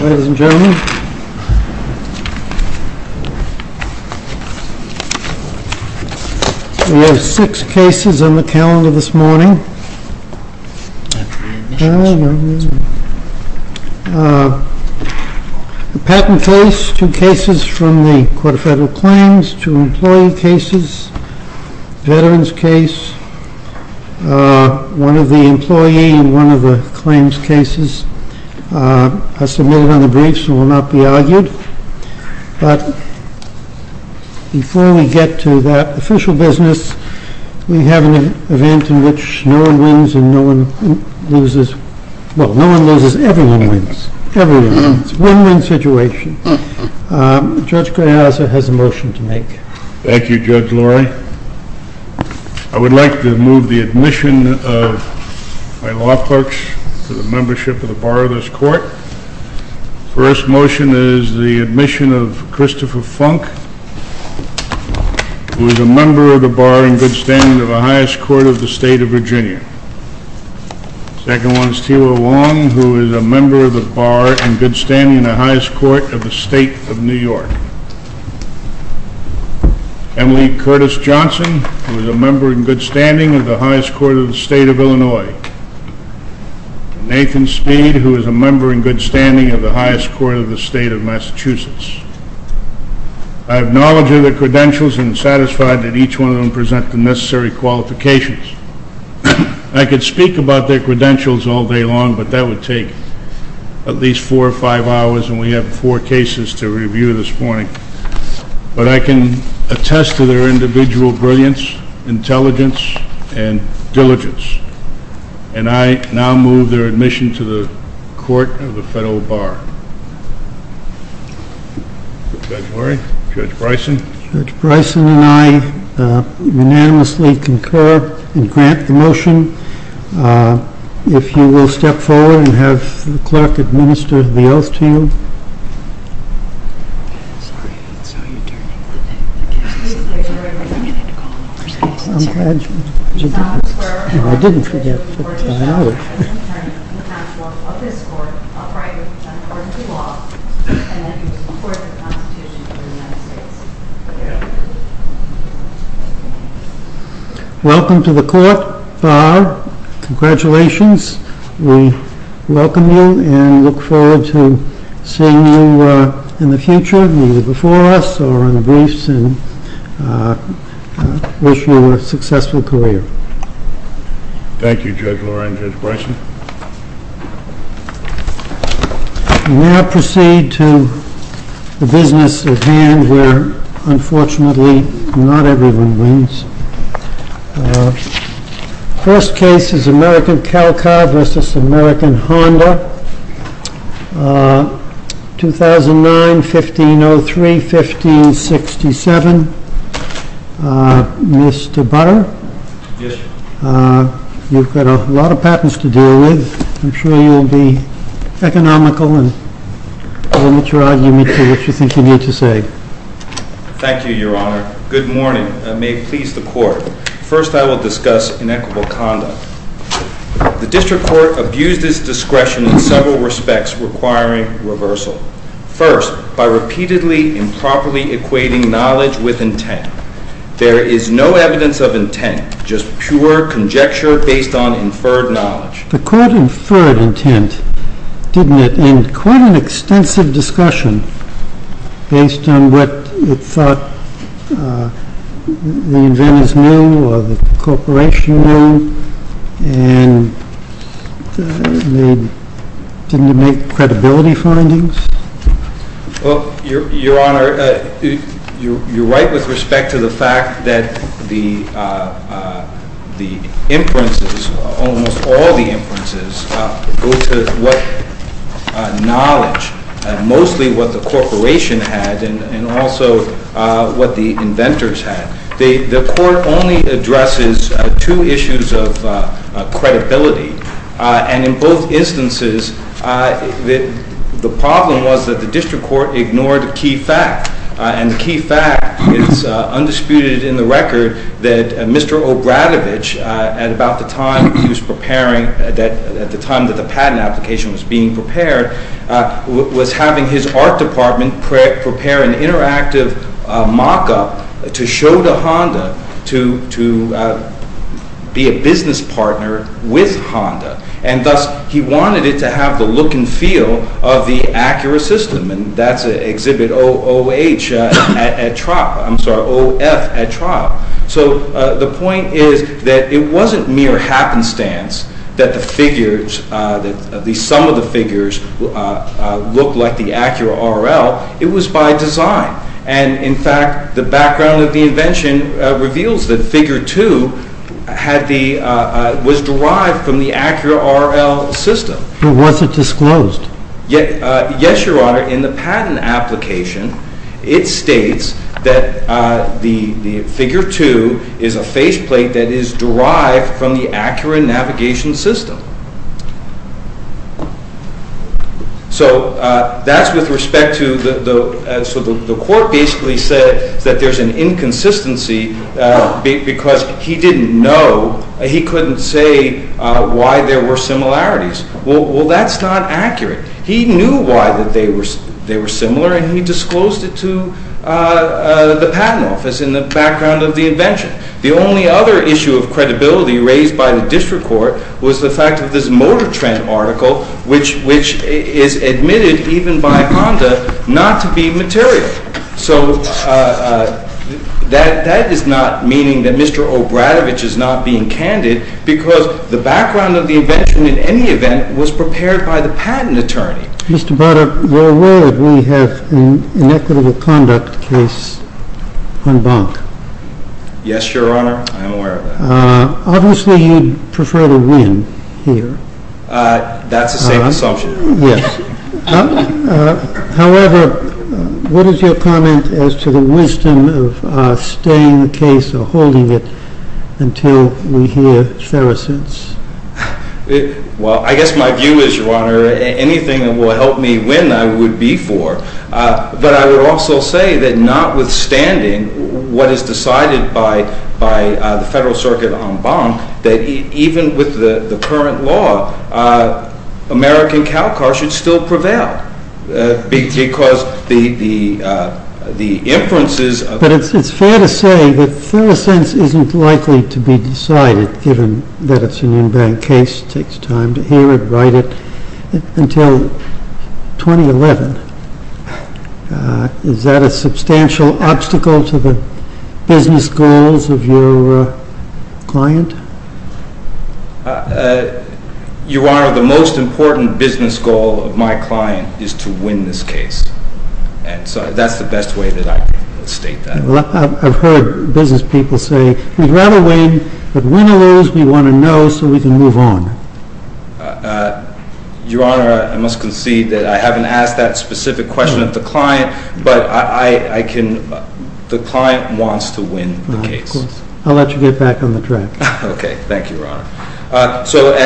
Ladies and gentlemen, we have six cases on the calendar this morning. The patent case, two cases from the Court of Federal Claims, two employee cases, veterans case, one of the employee and one of the claims cases are submitted on the briefs and will not be argued. But before we get to that official business, we have an event in which no one wins and no one loses. Well, no one loses, everyone wins. Everyone wins. It's a win-win situation. Judge Graiazza has a motion to make. Thank you, Judge Lori. I would like to move the admission of my law clerks to the membership of the Bar of this Court. First motion is the admission of Christopher Funk, who is a member of the Bar in good standing of the highest court of the state of Virginia. Second one is Tiwa Wong, who is a member of the Bar in good standing of the highest court of the state of New York. Emily Curtis Johnson, who is a member in good standing of the highest court of the state of Illinois. Nathan Speed, who is a member in good standing of the highest court of the state of Massachusetts. I acknowledge their credentials and am satisfied that each one of them presents the necessary qualifications. I could speak about their credentials all day long, but that would take at least four or five hours, and we have four cases to review this morning. But I can attest to their individual brilliance, intelligence, and diligence. And I now move their admission to the Court of the Federal Bar. Judge Lori? Judge Bryson? Judge Bryson and I unanimously concur and grant the motion. If you will step forward and have the clerk administer the oath to you. I'm sorry, that's how you turn it. I'm glad you didn't forget. I didn't forget. Welcome to the Court of the Federal Bar. Congratulations. We welcome you and look forward to seeing you in the future, either before us or in the briefs, and wish you a successful career. Thank you, Judge Lori and Judge Bryson. We now proceed to the business at hand, where unfortunately not everyone wins. First case is American Calcar v. American Honda, 2009, 1503, 1567. Mr. Butter? Yes. You've got a lot of patents to deal with. I'm sure you'll be economical and won't let your argument get to what you think you need to say. Thank you, Your Honor. Good morning. May it please the Court. First, I will discuss inequitable conduct. The district court abused its discretion in several respects, requiring reversal. First, by repeatedly improperly equating knowledge with intent. There is no evidence of intent, just pure conjecture based on inferred knowledge. The court inferred intent, didn't it, in quite an extensive discussion based on what it thought the inventors knew or the corporation knew? And didn't it make credibility findings? Well, Your Honor, you're right with respect to the fact that the inferences, almost all the inferences, go to what knowledge, mostly what the corporation had and also what the inventors had. The court only addresses two issues of credibility. And in both instances, the problem was that the district court ignored a key fact. And the key fact is undisputed in the record that Mr. Obradovich, at the time that the patent application was being prepared, was having his art department prepare an interactive mock-up to show to Honda to be a business partner with Honda. And thus, he wanted it to have the look and feel of the Acura system. And that's exhibit O-F at trial. So the point is that it wasn't mere happenstance that some of the figures looked like the Acura RL. It was by design. And, in fact, the background of the invention reveals that Figure 2 was derived from the Acura RL system. But was it disclosed? Yes, Your Honor. In the patent application, it states that the Figure 2 is a faceplate that is derived from the Acura navigation system. So that's with respect to the court basically said that there's an inconsistency because he didn't know. He couldn't say why there were similarities. Well, that's not accurate. He knew why they were similar, and he disclosed it to the patent office in the background of the invention. The only other issue of credibility raised by the district court was the fact of this Motor Trend article, which is admitted even by Honda not to be material. So that is not meaning that Mr. Obradovich is not being candid because the background of the invention, in any event, was prepared by the patent attorney. Mr. Broderick, you're aware that we have an inequitable conduct case on Bonk? Yes, Your Honor. I'm aware of that. Obviously, you'd prefer to win here. That's the same assumption. Yes. However, what is your comment as to the wisdom of staying the case or holding it until we hear ferocence? Well, I guess my view is, Your Honor, anything that will help me win I would be for. But I would also say that notwithstanding what is decided by the Federal Circuit on Bonk, that even with the current law, American Calcar should still prevail. But it's fair to say that ferocence isn't likely to be decided, given that it's an in-bank case. It takes time to hear it, write it, until 2011. Is that a substantial obstacle to the business goals of your client? Your Honor, the most important business goal of my client is to win this case. And so that's the best way that I can state that. I've heard business people say, we'd rather win, but win or lose, we want to know so we can move on. Your Honor, I must concede that I haven't asked that specific question of the client, but the client wants to win the case. I'll let you get back on the track. Okay, thank you, Your Honor. So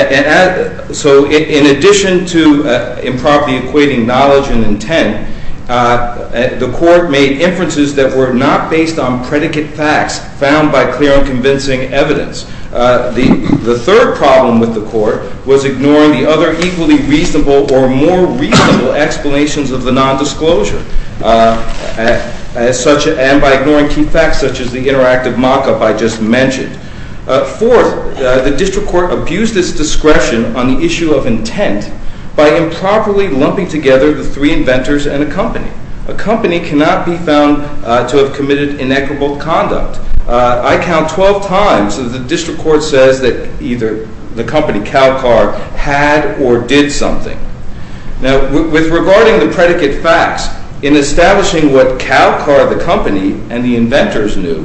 in addition to improperly equating knowledge and intent, the Court made inferences that were not based on predicate facts found by clear and convincing evidence. The third problem with the Court was ignoring the other equally reasonable or more reasonable explanations of the nondisclosure. And by ignoring key facts such as the interactive mock-up I just mentioned. Fourth, the District Court abused its discretion on the issue of intent by improperly lumping together the three inventors and a company. A company cannot be found to have committed inequitable conduct. I count 12 times that the District Court says that either the company, Calcar, had or did something. Now, with regarding the predicate facts, in establishing what Calcar, the company, and the inventors knew,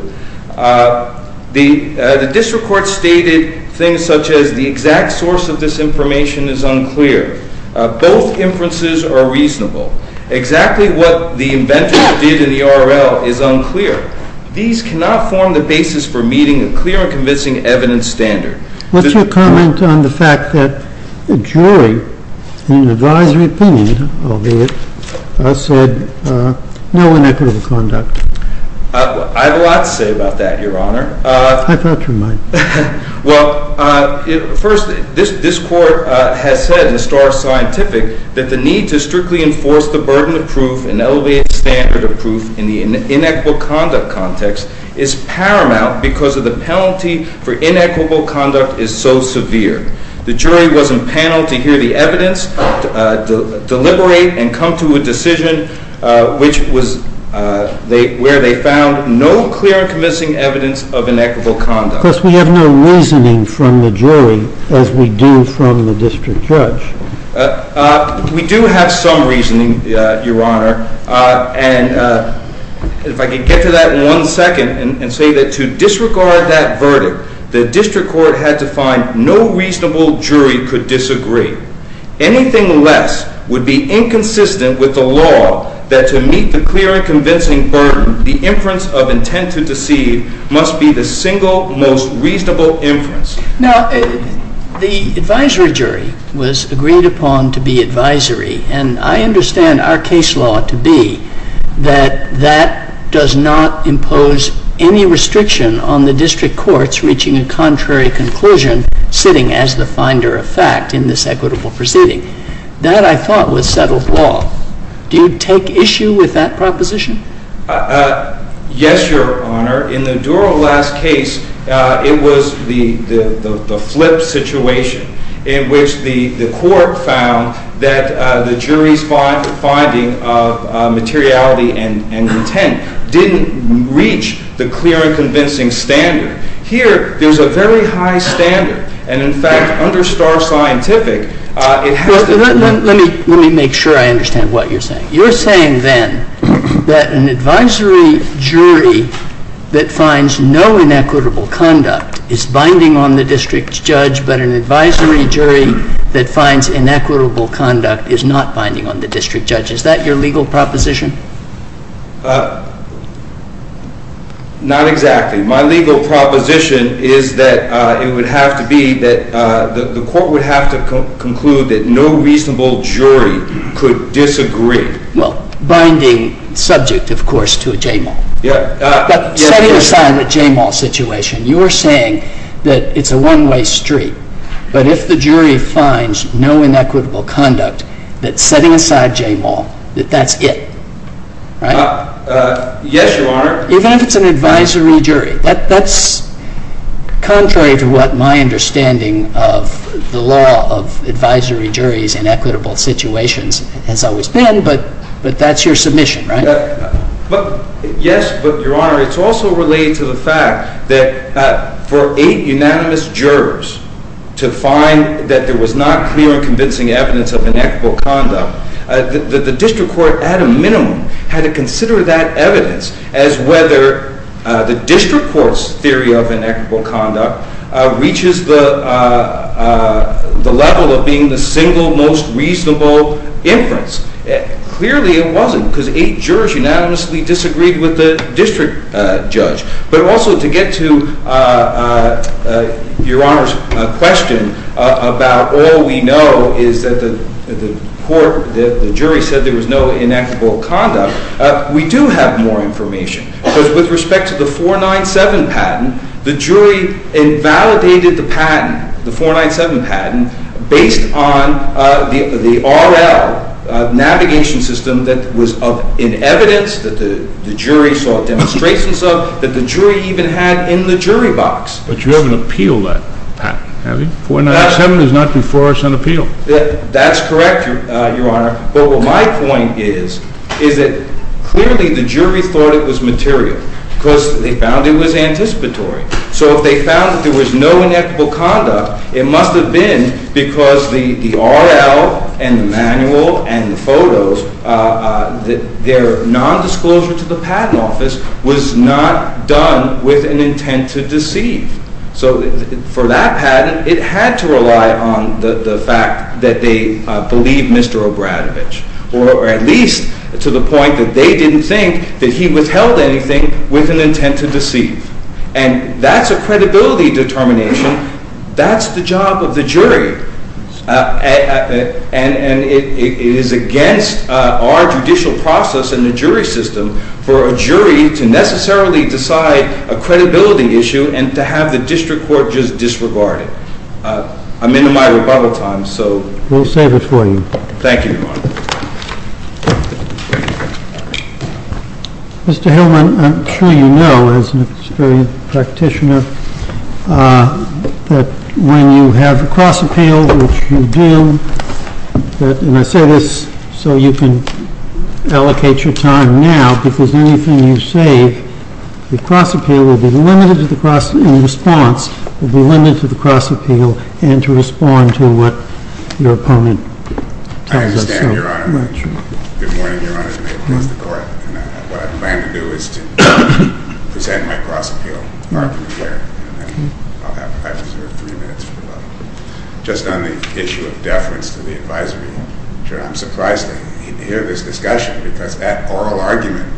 the District Court stated things such as the exact source of this information is unclear. Both inferences are reasonable. Exactly what the inventors did in the RL is unclear. These cannot form the basis for meeting a clear and convincing evidence standard. What's your comment on the fact that the jury in advisory opinion of it said no inequitable conduct? I have a lot to say about that, Your Honor. I thought you might. Well, first, this Court has said in the Star of Scientific that the need to strictly enforce the burden of proof and elevate standard of proof in the inequitable conduct context is paramount because of the penalty for inequitable conduct is so severe. The jury was impaneled to hear the evidence, deliberate, and come to a decision where they found no clear and convincing evidence of inequitable conduct. Of course, we have no reasoning from the jury as we do from the District Judge. We do have some reasoning, Your Honor, and if I could get to that in one second and say that to disregard that verdict, the District Court had to find no reasonable jury could disagree. Anything less would be inconsistent with the law that to meet the clear and convincing burden, the inference of intent to deceive must be the single most reasonable inference. Now, the advisory jury was agreed upon to be advisory, and I understand our case law to be that that does not impose any restriction on the District Courts reaching a contrary conclusion sitting as the finder of fact in this equitable proceeding. That, I thought, was settled law. Do you take issue with that proposition? Yes, Your Honor. In the Durrell last case, it was the flip situation in which the court found that the jury's finding of materiality and intent didn't reach the clear and convincing standard. Here, there's a very high standard, and in fact, under Starr Scientific, it has to be— Let me make sure I understand what you're saying. You're saying, then, that an advisory jury that finds no inequitable conduct is binding on the District Judge, but an advisory jury that finds inequitable conduct is not binding on the District Judge. Is that your legal proposition? Not exactly. My legal proposition is that it would have to be that the court would have to conclude that no reasonable jury could disagree. Well, binding subject, of course, to a JMAL. Setting aside the JMAL situation, you're saying that it's a one-way street, but if the jury finds no inequitable conduct, that setting aside JMAL, that that's it, right? Yes, Your Honor. Even if it's an advisory jury. That's contrary to what my understanding of the law of advisory juries in equitable situations has always been, but that's your submission, right? Yes, but, Your Honor, it's also related to the fact that for eight unanimous jurors to find that there was not clear and convincing evidence of inequitable conduct, the District Court, at a minimum, had to consider that evidence as whether the District Court's theory of inequitable conduct reaches the level of being the single most reasonable inference. Clearly, it wasn't, because eight jurors unanimously disagreed with the District Judge, but also to get to Your Honor's question about all we know is that the jury said there was no inequitable conduct, we do have more information, because with respect to the 497 patent, the jury invalidated the patent, the 497 patent, based on the RL navigation system that was in evidence that the jury saw demonstrations of, that the jury even had in the jury box. But you haven't appealed that patent, have you? 497 is not before us on appeal. That's correct, Your Honor, but what my point is, is that clearly the jury thought it was material, because they found it was anticipatory. So if they found that there was no inequitable conduct, it must have been because the RL and the manual and the photos, their nondisclosure to the patent office was not done with an intent to deceive. So for that patent, it had to rely on the fact that they believed Mr. Obradovich, or at least to the point that they didn't think that he withheld anything with an intent to deceive. And that's a credibility determination. That's the job of the jury. And it is against our judicial process in the jury system for a jury to necessarily decide a credibility issue and to have the district court just disregard it. I'm in my rebuttal time, so... We'll save it for you. Thank you, Your Honor. Mr. Hillman, I'm sure you know, as an experienced practitioner, that when you have a cross appeal, which you do, and I say this so you can allocate your time now, because anything you say, the cross appeal will be limited to the cross in response, will be limited to the cross appeal and to respond to what your opponent tells us. Good morning, Your Honor. Good morning, Your Honor. Good morning, Mr. Court. What I plan to do is to present my cross appeal, and I'll have three minutes for that. Just on the issue of deference to the advisory, I'm surprised to hear this discussion because that oral argument,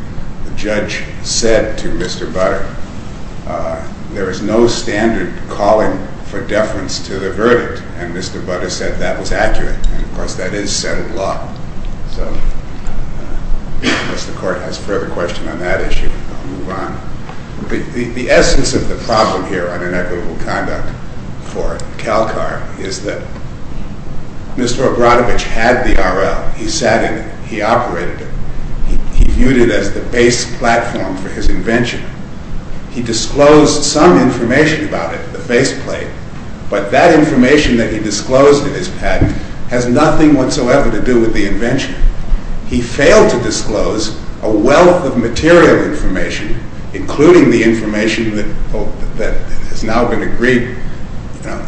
the judge said to Mr. Butter, there is no standard calling for deference to the verdict, and Mr. Butter said that was accurate. And, of course, that is set in law. So, unless the Court has further question on that issue, I'll move on. The essence of the problem here on inequitable conduct for CalCAR is that Mr. Obradovich had the RL. He sat in it. He operated it. He viewed it as the base platform for his invention. He disclosed some information about it, the faceplate, but that information that he disclosed in his patent has nothing whatsoever to do with the invention. He failed to disclose a wealth of material information, including the information that has now been agreed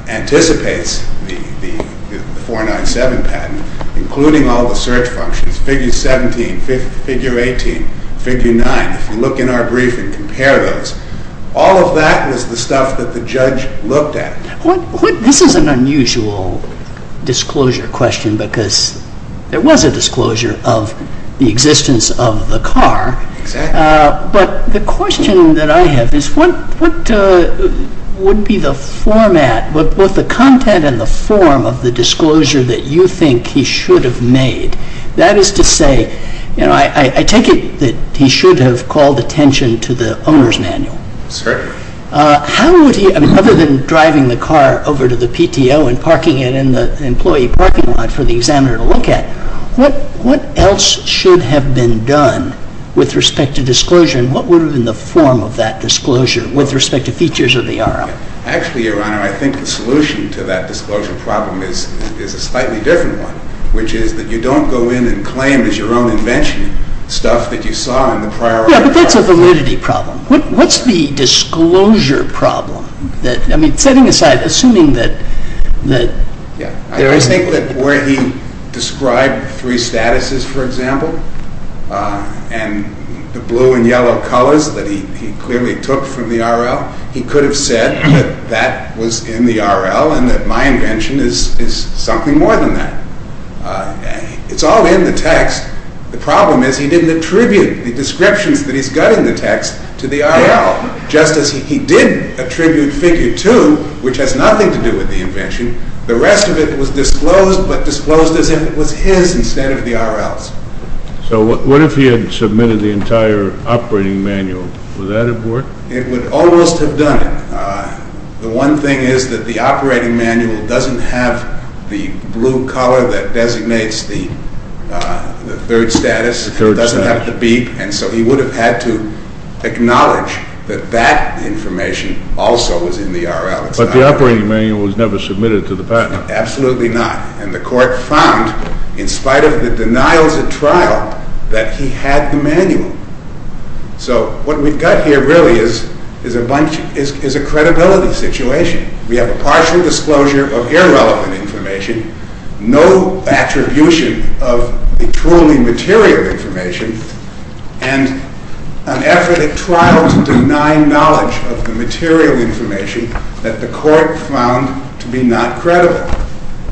anticipates the 497 patent, including all the search functions, figure 17, figure 18, figure 9. If you look in our brief and compare those, all of that is the stuff that the judge looked at. This is an unusual disclosure question because there was a disclosure of the existence of the car. Exactly. But the question that I have is what would be the format, both the content and the form, of the disclosure that you think he should have made? That is to say, I take it that he should have called attention to the owner's manual. Certainly. How would he, other than driving the car over to the PTO and parking it in the employee parking lot for the examiner to look at, what else should have been done with respect to disclosure and what would have been the form of that disclosure with respect to features of the RL? Actually, Your Honor, I think the solution to that disclosure problem is a slightly different one, which is that you don't go in and claim as your own invention stuff that you saw in the prior article. Yeah, but that's a validity problem. What's the disclosure problem? I mean, setting aside, assuming that... Yeah, I think that where he described three statuses, for example, and the blue and yellow colors that he clearly took from the RL, he could have said that that was in the RL and that my invention is something more than that. It's all in the text. The problem is he didn't attribute the descriptions that he's got in the text to the RL, just as he did attribute Figure 2, which has nothing to do with the invention. The rest of it was disclosed, but disclosed as if it was his instead of the RL's. So what if he had submitted the entire operating manual? Would that have worked? It would almost have done it. The one thing is that the operating manual doesn't have the blue color that designates the third status. It doesn't have the beep. And so he would have had to acknowledge that that information also was in the RL. But the operating manual was never submitted to the patent. Absolutely not. And the court found, in spite of the denials at trial, that he had the manual. So what we've got here really is a credibility situation. We have a partial disclosure of irrelevant information, no attribution of the truly material information, and an effort at trial to deny knowledge of the material information that the court found to be not credible.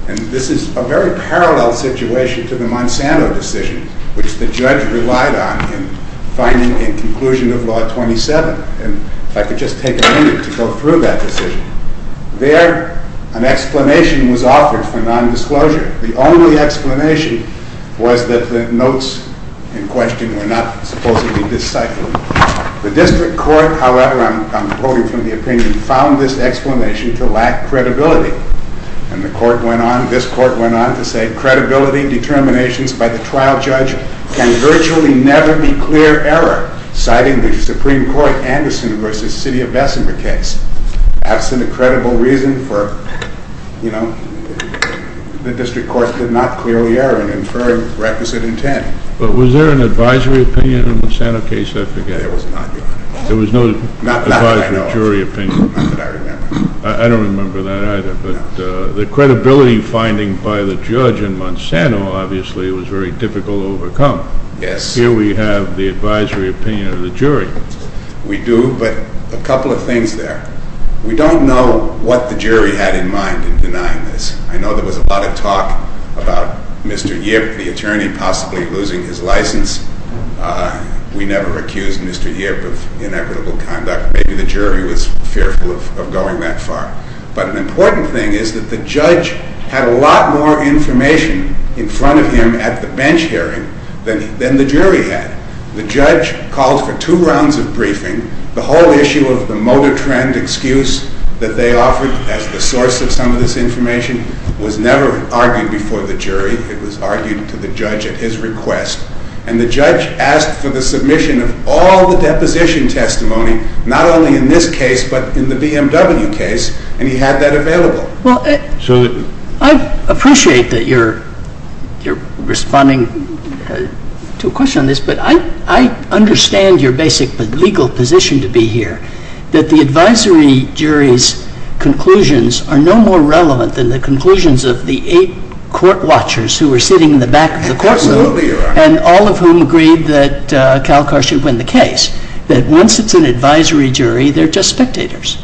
And this is a very parallel situation to the Monsanto decision, which the judge relied on in finding a conclusion of Law 27. And if I could just take a minute to go through that decision. There, an explanation was offered for nondisclosure. The only explanation was that the notes in question were not supposedly disciplined. The district court, however, I'm quoting from the opinion, found this explanation to lack credibility. And the court went on, this court went on to say, credibility determinations by the trial judge can virtually never be clear error, citing the Supreme Court Anderson v. City of Bessemer case. Absent a credible reason for, you know, the district court did not clearly err in inferring requisite intent. But was there an advisory opinion in the Monsanto case? I forget. There was not. There was no advisory jury opinion. Not that I remember. I don't remember that either. But the credibility finding by the judge in Monsanto, obviously, was very difficult to overcome. Yes. Here we have the advisory opinion of the jury. We do, but a couple of things there. We don't know what the jury had in mind in denying this. I know there was a lot of talk about Mr. Yip, the attorney, possibly losing his license. We never accused Mr. Yip of inequitable conduct. Maybe the jury was fearful of going that far. But an important thing is that the judge had a lot more information in front of him at the bench hearing than the jury had. The judge called for two rounds of briefing. The whole issue of the motor trend excuse that they offered as the source of some of this information was never argued before the jury. It was argued to the judge at his request. And the judge asked for the submission of all the deposition testimony, not only in this case but in the BMW case, and he had that available. Well, I appreciate that you're responding to a question on this, but I understand your basic legal position to be here, that the advisory jury's conclusions are no more relevant than the conclusions of the eight court watchers who were sitting in the back of the courtroom. Absolutely, Your Honor. And all of whom agreed that Calcar should win the case, that once it's an advisory jury, they're just spectators.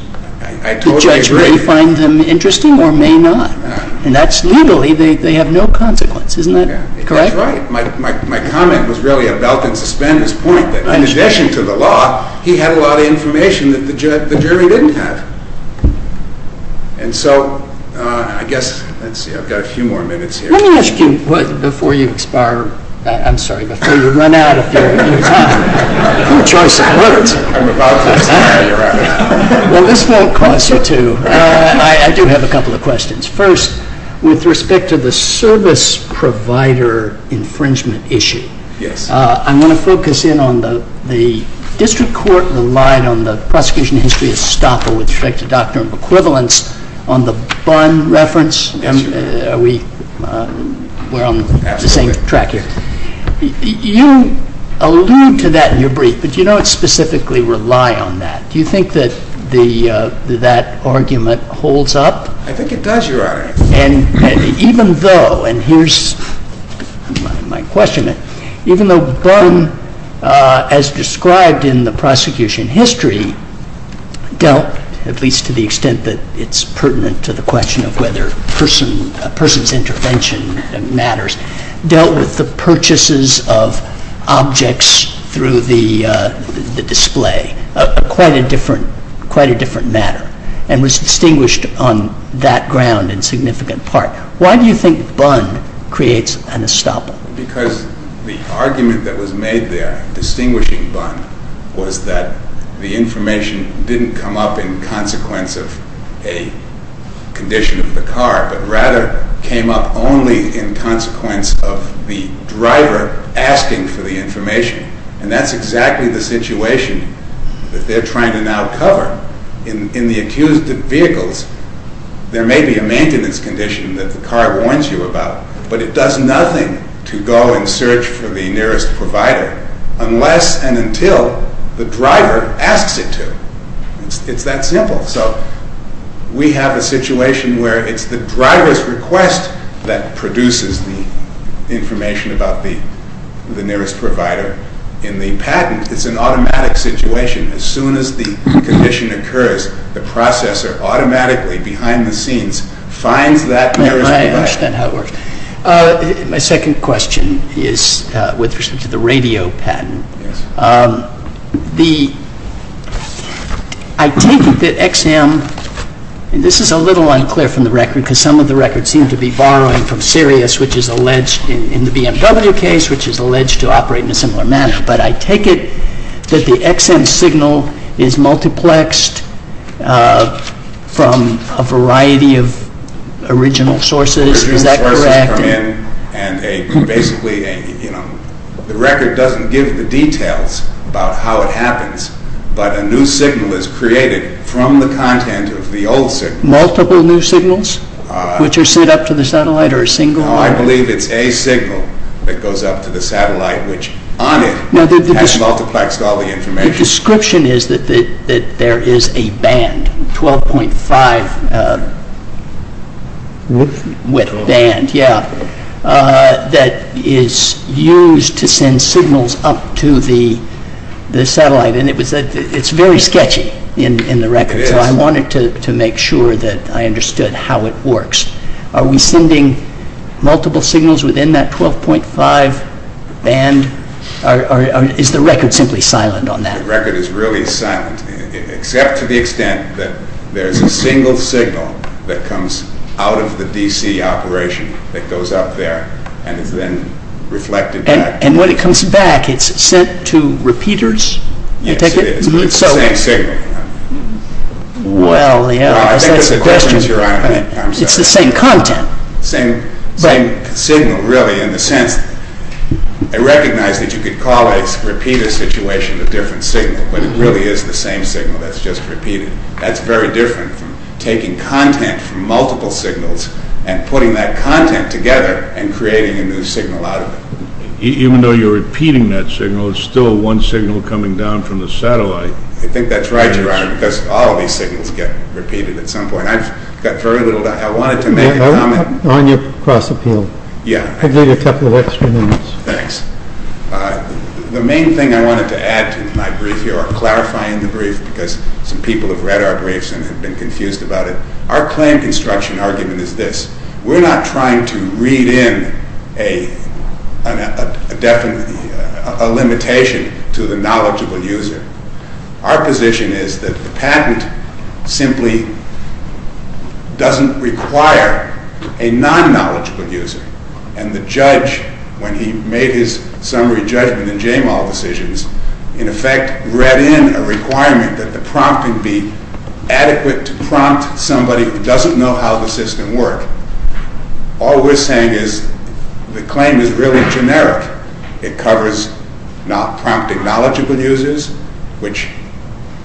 I totally agree. The judge may find them interesting or may not. And that's legally, they have no consequence. Isn't that correct? That's right. My comment was really about to suspend his point that in addition to the law, he had a lot of information that the jury didn't have. And so I guess, let's see, I've got a few more minutes here. Let me ask you before you expire, I'm sorry, before you run out of your time, your choice of words. I'm about to expire, Your Honor. Well, this won't cost you two. I do have a couple of questions. First, with respect to the service provider infringement issue, I want to focus in on the district court relied on the prosecution history of Stoppel with respect to doctrine of equivalence on the Bunn reference. Yes, Your Honor. We're on the same track here. You allude to that in your brief, but you don't specifically rely on that. Do you think that that argument holds up? I think it does, Your Honor. Even though, and here's my question, even though Bunn, as described in the prosecution history, dealt, at least to the extent that it's pertinent to the question of whether a person's intervention matters, dealt with the purchases of objects through the display, quite a different matter, and was distinguished on that ground in significant part. Why do you think Bunn creates an estoppel? Because the argument that was made there, distinguishing Bunn, was that the information didn't come up in consequence of a condition of the car, but rather came up only in consequence of the driver asking for the information. And that's exactly the situation that they're trying to now cover. In the accused vehicles, there may be a maintenance condition that the car warns you about, but it does nothing to go and search for the nearest provider unless and until the driver asks it to. It's that simple. So we have a situation where it's the driver's request that produces the information about the nearest provider. In the patent, it's an automatic situation. As soon as the condition occurs, the processor automatically, behind the scenes, finds that nearest provider. I understand how it works. My second question is with respect to the radio patent. I take it that XM, and this is a little unclear from the record, because some of the records seem to be borrowing from Sirius, which is alleged in the BMW case, which is alleged to operate in a similar manner, but I take it that the XM signal is multiplexed from a variety of original sources. Is that correct? The record doesn't give the details about how it happens, but a new signal is created from the content of the old signal. Multiple new signals, which are sent up to the satellite, or a single one? No, I believe it's a signal that goes up to the satellite, which on it has multiplexed all the information. My description is that there is a band, 12.5 band, that is used to send signals up to the satellite. It's very sketchy in the record, so I wanted to make sure that I understood how it works. Are we sending multiple signals within that 12.5 band? Or is the record simply silent on that? The record is really silent, except to the extent that there is a single signal that comes out of the DC operation that goes up there and is then reflected back. And when it comes back, it's sent to repeaters? Yes, it is, but it's the same signal. Well, yes. It's the same content. It's the same signal, really, in the sense that I recognize that you could call a repeater situation a different signal, but it really is the same signal that's just repeated. That's very different from taking content from multiple signals and putting that content together and creating a new signal out of it. Even though you're repeating that signal, it's still one signal coming down from the satellite. I think that's right, Your Honor, because all of these signals get repeated at some point. I've got very little time. I wanted to make a comment. On your cross-appeal? Yes. I'll give you a couple of extra minutes. Thanks. The main thing I wanted to add to my brief here, or clarify in the brief, because some people have read our briefs and have been confused about it, our claim construction argument is this. We're not trying to read in a limitation to the knowledgeable user. Our position is that the patent simply doesn't require a non-knowledgeable user, and the judge, when he made his summary judgment in JMAL decisions, in effect read in a requirement that the prompting be adequate to prompt somebody who doesn't know how the system works. All we're saying is the claim is really generic. It covers not prompting knowledgeable users, which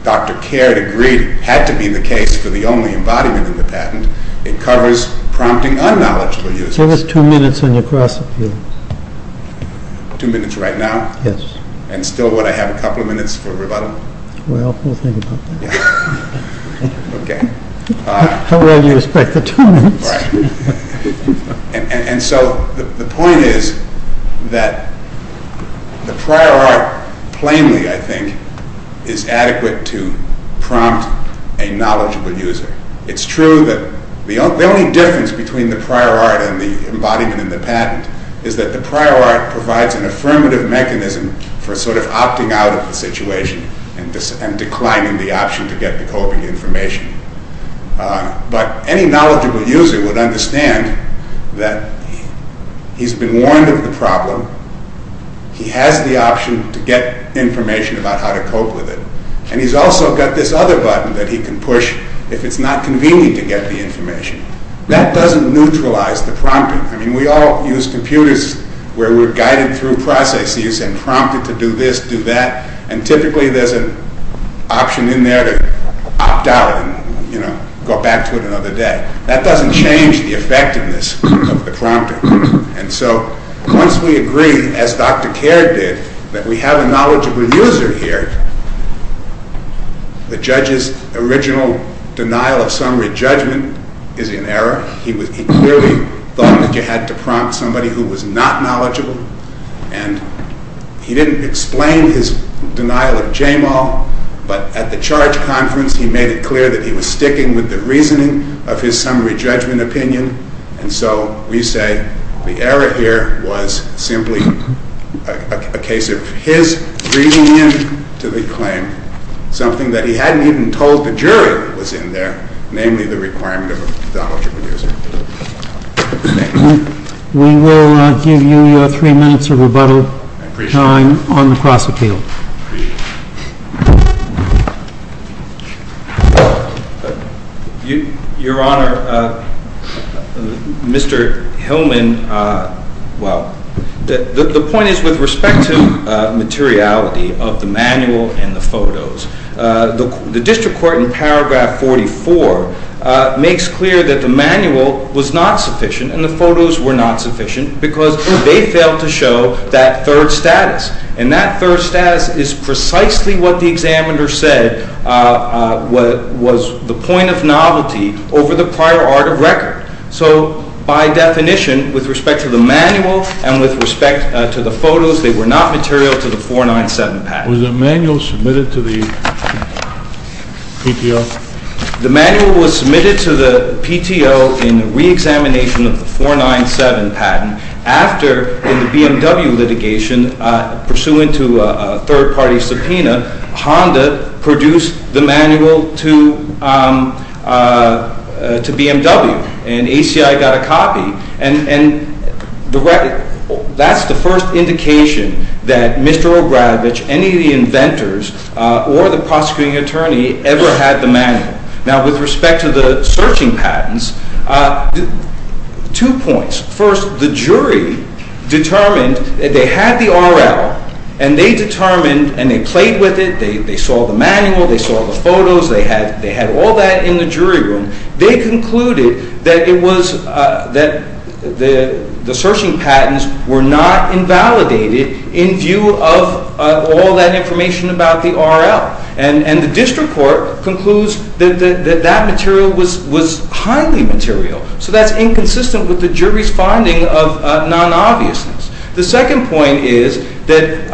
Dr. Caird agreed had to be the case for the only embodiment of the patent. It covers prompting unknowledgeable users. Give us two minutes on your cross-appeal. Two minutes right now? Yes. And still would I have a couple of minutes for rebuttal? Well, we'll think about that. Okay. How well do you respect the two minutes? Right. And so the point is that the prior art plainly, I think, is adequate to prompt a knowledgeable user. It's true that the only difference between the prior art and the embodiment in the patent is that the prior art provides an affirmative mechanism for sort of opting out of the situation and declining the option to get the coping information. But any knowledgeable user would understand that he's been warned of the problem, he has the option to get information about how to cope with it, and he's also got this other button that he can push if it's not convenient to get the information. That doesn't neutralize the prompting. I mean, we all use computers where we're guided through processes and prompted to do this, do that, and typically there's an option in there to opt out and go back to it another day. That doesn't change the effectiveness of the prompter. And so once we agree, as Dr. Caird did, that we have a knowledgeable user here, the judge's original denial of summary judgment is in error. He clearly thought that you had to prompt somebody who was not knowledgeable, and he didn't explain his denial of JAMAL, but at the charge conference he made it clear that he was sticking with the reasoning of his summary judgment opinion, and so we say the error here was simply a case of his reading into the claim something that he hadn't even told the jury was in there, namely the requirement of a knowledgeable user. We will give you your three minutes of rebuttal time on the cross-appeal. Your Honor, Mr. Hillman, well, the point is with respect to materiality of the manual and the photos. The district court in paragraph 44 makes clear that the manual was not sufficient and the photos were not sufficient because they failed to show that third status, and that third status is precisely what the examiner said was the point of novelty over the prior art of record. So by definition, with respect to the manual and with respect to the photos, they were not material to the 497 package. Was the manual submitted to the PTO? The manual was submitted to the PTO in reexamination of the 497 patent after in the BMW litigation, pursuant to a third-party subpoena, Honda produced the manual to BMW, and ACI got a copy, and that's the first indication that Mr. Obradovich, any of the inventors, or the prosecuting attorney ever had the manual. Now, with respect to the searching patents, two points. First, the jury determined that they had the RL, and they determined, and they played with it, they saw the manual, they saw the photos, they had all that in the jury room. They concluded that the searching patents were not invalidated in view of all that information about the RL, and the district court concludes that that material was highly material, so that's inconsistent with the jury's finding of non-obviousness. The second point is that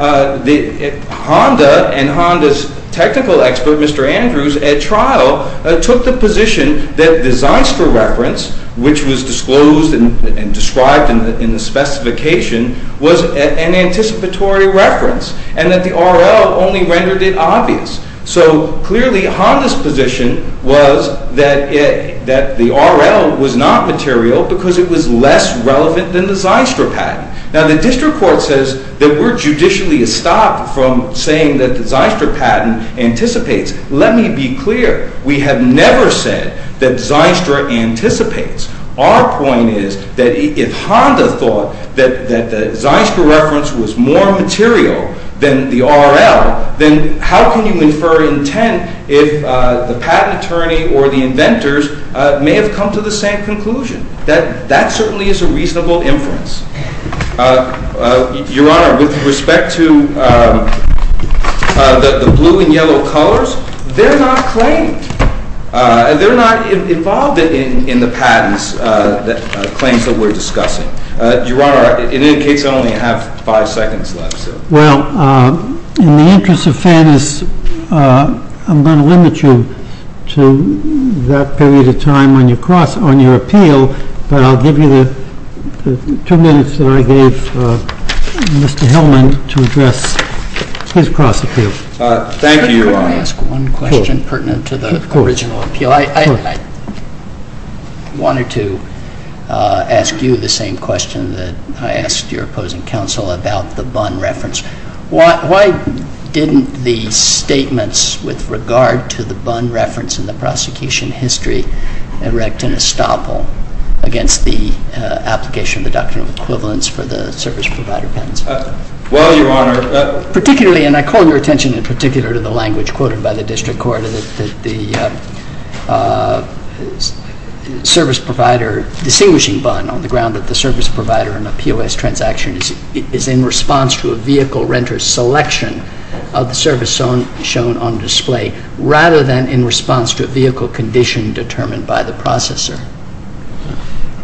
Honda, and Honda's technical expert, Mr. Andrews, at trial, took the position that the Zeistra reference, which was disclosed and described in the specification, was an anticipatory reference, and that the RL only rendered it obvious. So, clearly, Honda's position was that the RL was not material because it was less relevant than the Zeistra patent. Now, the district court says that we're judicially estopped from saying that the Zeistra patent anticipates. Let me be clear. We have never said that Zeistra anticipates. Our point is that if Honda thought that the Zeistra reference was more material than the RL, then how can you infer intent if the patent attorney or the inventors may have come to the same conclusion? That certainly is a reasonable inference. Your Honor, with respect to the blue and yellow colors, they're not claimed. They're not involved in the patents claims that we're discussing. Your Honor, in any case, I only have five seconds left. Well, in the interest of fairness, I'm going to limit you to that period of time on your appeal, but I'll give you the two minutes that I gave Mr. Hillman to address his cross-appeal. Thank you, Your Honor. Let me ask one question pertinent to the original appeal. I wanted to ask you the same question that I asked your opposing counsel about the Bunn reference. Why didn't the statements with regard to the Bunn reference in the prosecution history erect an estoppel against the application of the doctrine of equivalence for the service provider patents? Well, Your Honor, particularly, and I call your attention in particular to the language quoted by the district court, that the service provider distinguishing Bunn on the ground that the service provider in a POS transaction is in response to a vehicle renter's selection of the service shown on display rather than in response to a vehicle condition determined by the processor.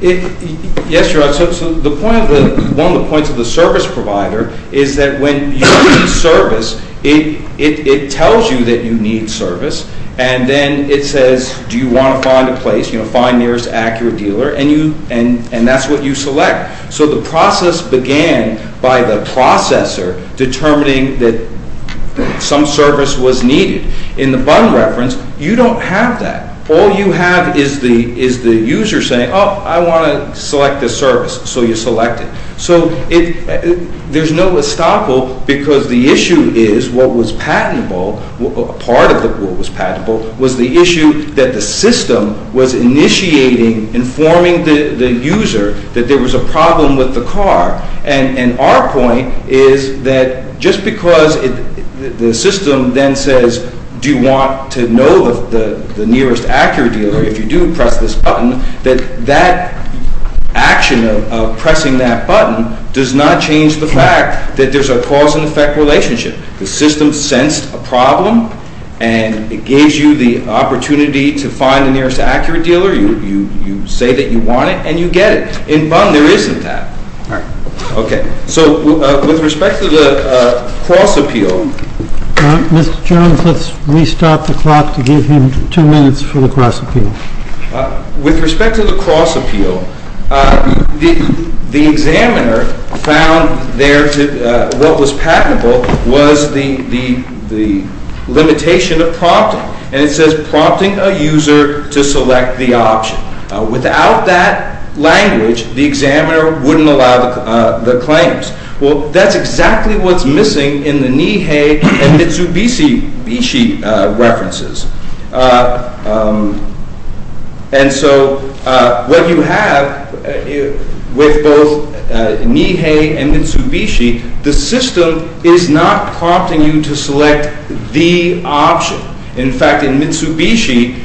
Yes, Your Honor. So one of the points of the service provider is that when you need service, it tells you that you need service, and then it says, do you want to find a place, you know, find nearest accurate dealer, and that's what you select. So the process began by the processor determining that some service was needed. In the Bunn reference, you don't have that. All you have is the user saying, oh, I want to select a service, so you select it. So there's no estoppel because the issue is what was patentable, part of what was patentable, was the issue that the system was initiating informing the user that there was a problem with the car. And our point is that just because the system then says, do you want to know the nearest accurate dealer, if you do press this button, that that action of pressing that button does not change the fact that there's a cause and effect relationship. The system sensed a problem, and it gives you the opportunity to find the nearest accurate dealer. You say that you want it, and you get it. In Bunn, there isn't that. All right. Okay. So with respect to the cross appeal. Mr. Jones, let's restart the clock to give him two minutes for the cross appeal. With respect to the cross appeal, the examiner found there what was patentable was the limitation of prompting, and it says prompting a user to select the option. Without that language, the examiner wouldn't allow the claims. Well, that's exactly what's missing in the Nihei and Mitsubishi references. And so what you have with both Nihei and Mitsubishi, the system is not prompting you to select the option. In fact, in Mitsubishi,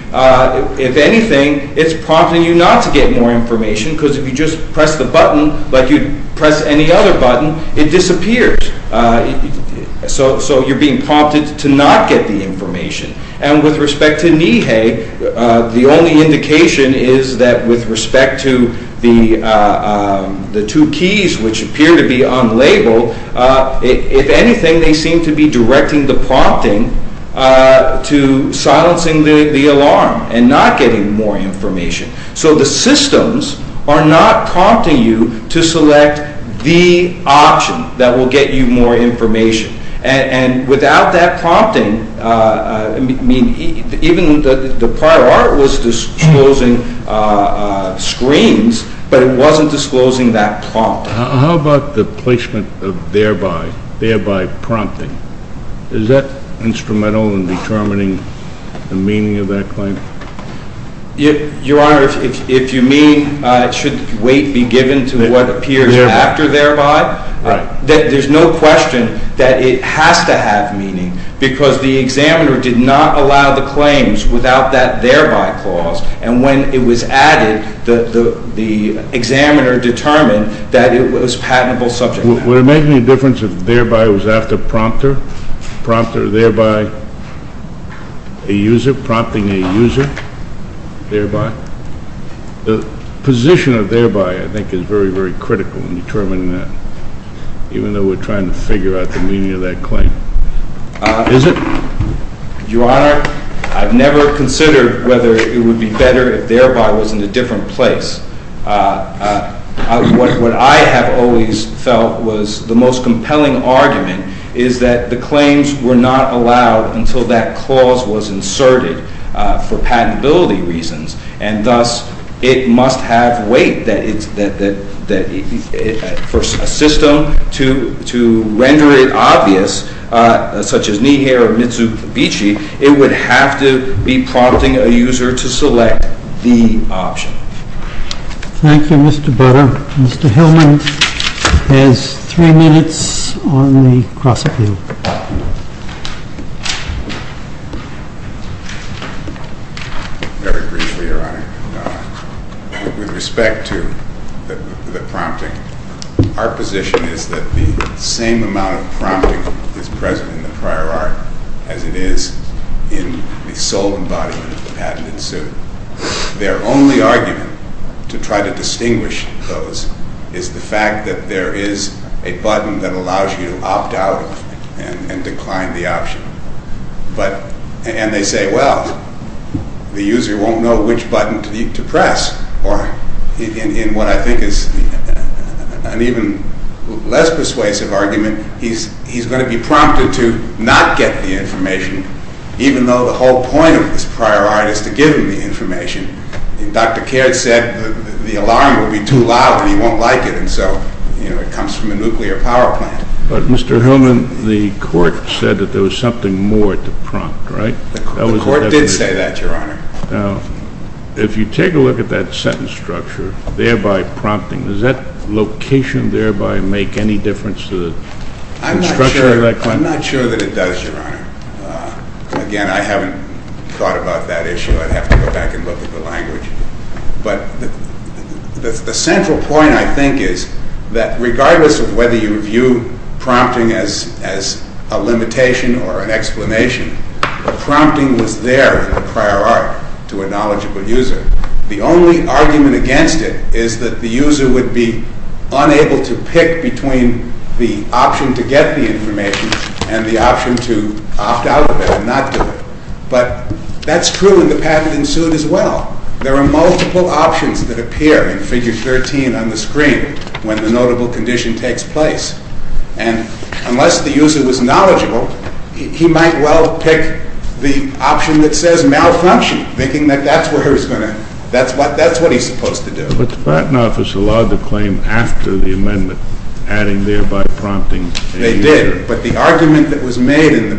if anything, it's prompting you not to get more information, because if you just press the button like you'd press any other button, it disappears. So you're being prompted to not get the information. And with respect to Nihei, the only indication is that with respect to the two keys, which appear to be unlabeled, if anything, they seem to be directing the prompting to silencing the alarm and not getting more information. So the systems are not prompting you to select the option that will get you more information. And without that prompting, even the prior article was disclosing screens, but it wasn't disclosing that prompt. How about the placement of thereby, thereby prompting? Is that instrumental in determining the meaning of that claim? Your Honor, if you mean should wait be given to what appears after thereby, there's no question that it has to have meaning, because the examiner did not allow the claims without that thereby clause. And when it was added, the examiner determined that it was patentable subject matter. Would it make any difference if thereby was after prompter, prompter thereby, a user, prompting a user, thereby? The position of thereby, I think, is very, very critical in determining that, even though we're trying to figure out the meaning of that claim. Is it? Your Honor, I've never considered whether it would be better if thereby was in a different place. What I have always felt was the most compelling argument is that the claims were not allowed until that clause was inserted for patentability reasons. And thus, it must have weight that for a system to render it obvious, such as Nihei or Mitsubishi, it would have to be prompting a user to select the option. Thank you, Mr. Butter. Mr. Hillman has three minutes on the cross-appeal. Very briefly, Your Honor. With respect to the prompting, our position is that the same amount of prompting is present in the prior art as it is in the sole embodiment of the patented suit. Their only argument to try to distinguish those is the fact that there is a button that allows you to opt out and decline the option. And they say, well, the user won't know which button to press. Or, in what I think is an even less persuasive argument, he's going to be prompted to not get the information, even though the whole point of this prior art is to give him the information. And Dr. Caird said the alarm would be too loud and he won't like it. And so, you know, it comes from a nuclear power plant. But, Mr. Hillman, the court said that there was something more to prompt, right? The court did say that, Your Honor. Now, if you take a look at that sentence structure, thereby prompting, does that location thereby make any difference to the structure of that claim? I'm not sure that it does, Your Honor. Again, I haven't thought about that issue. I'd have to go back and look at the language. But the central point, I think, is that regardless of whether you view prompting as a limitation or an explanation, the prompting was there in the prior art to a knowledgeable user. The only argument against it is that the user would be unable to pick between the option to get the information and the option to opt out of it and not do it. But that's true in the patent in suit as well. There are multiple options that appear in Figure 13 on the screen when the notable condition takes place. And unless the user was knowledgeable, he might well pick the option that says malfunction, thinking that that's what he's supposed to do. But the Patent Office allowed the claim after the amendment, adding thereby prompting. They did. But the argument that was made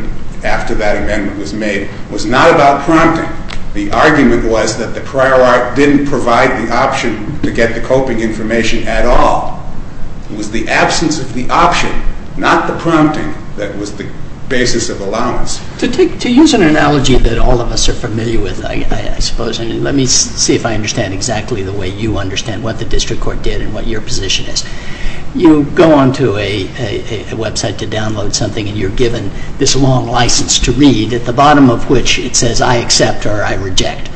after that amendment was made was not about prompting. The argument was that the prior art didn't provide the option to get the coping information at all. It was the absence of the option, not the prompting, that was the basis of allowance. To use an analogy that all of us are familiar with, I suppose, and let me see if I understand exactly the way you understand what the district court did and what your position is. You go onto a website to download something and you're given this long license to read at the bottom of which it says I accept or I reject.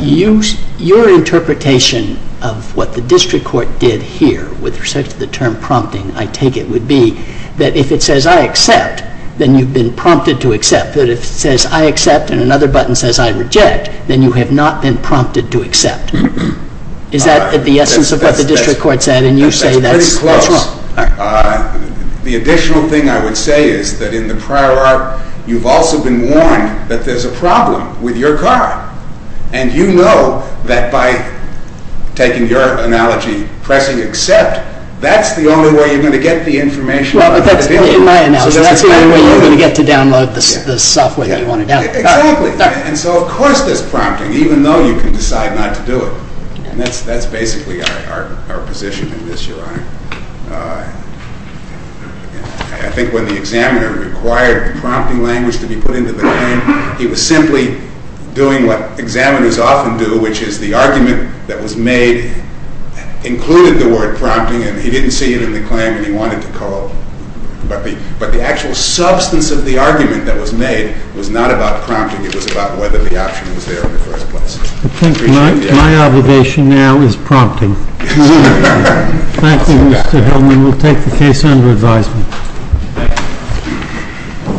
Your interpretation of what the district court did here with respect to the term prompting, I take it, would be that if it says I accept, then you've been prompted to accept. But if it says I accept and another button says I reject, then you have not been prompted to accept. Is that the essence of what the district court said and you say that's wrong? That's pretty close. The additional thing I would say is that in the prior art, you've also been warned that there's a problem with your car. And you know that by taking your analogy, pressing accept, that's the only way you're going to get the information on how to deal with it. In my analogy, that's the only way you're going to get to download the software that you want to download. Exactly. And so of course there's prompting, even though you can decide not to do it. And that's basically our position in this, Your Honor. I think when the examiner required prompting language to be put into the claim, he was simply doing what examiners often do, which is the argument that was made included the word prompting and he didn't see it in the claim and he wanted to corrode. But the actual substance of the argument that was made was not about prompting. It was about whether the option was there in the first place. I think my obligation now is prompting. Thank you, Mr. Hillman. We'll take the case under advisement.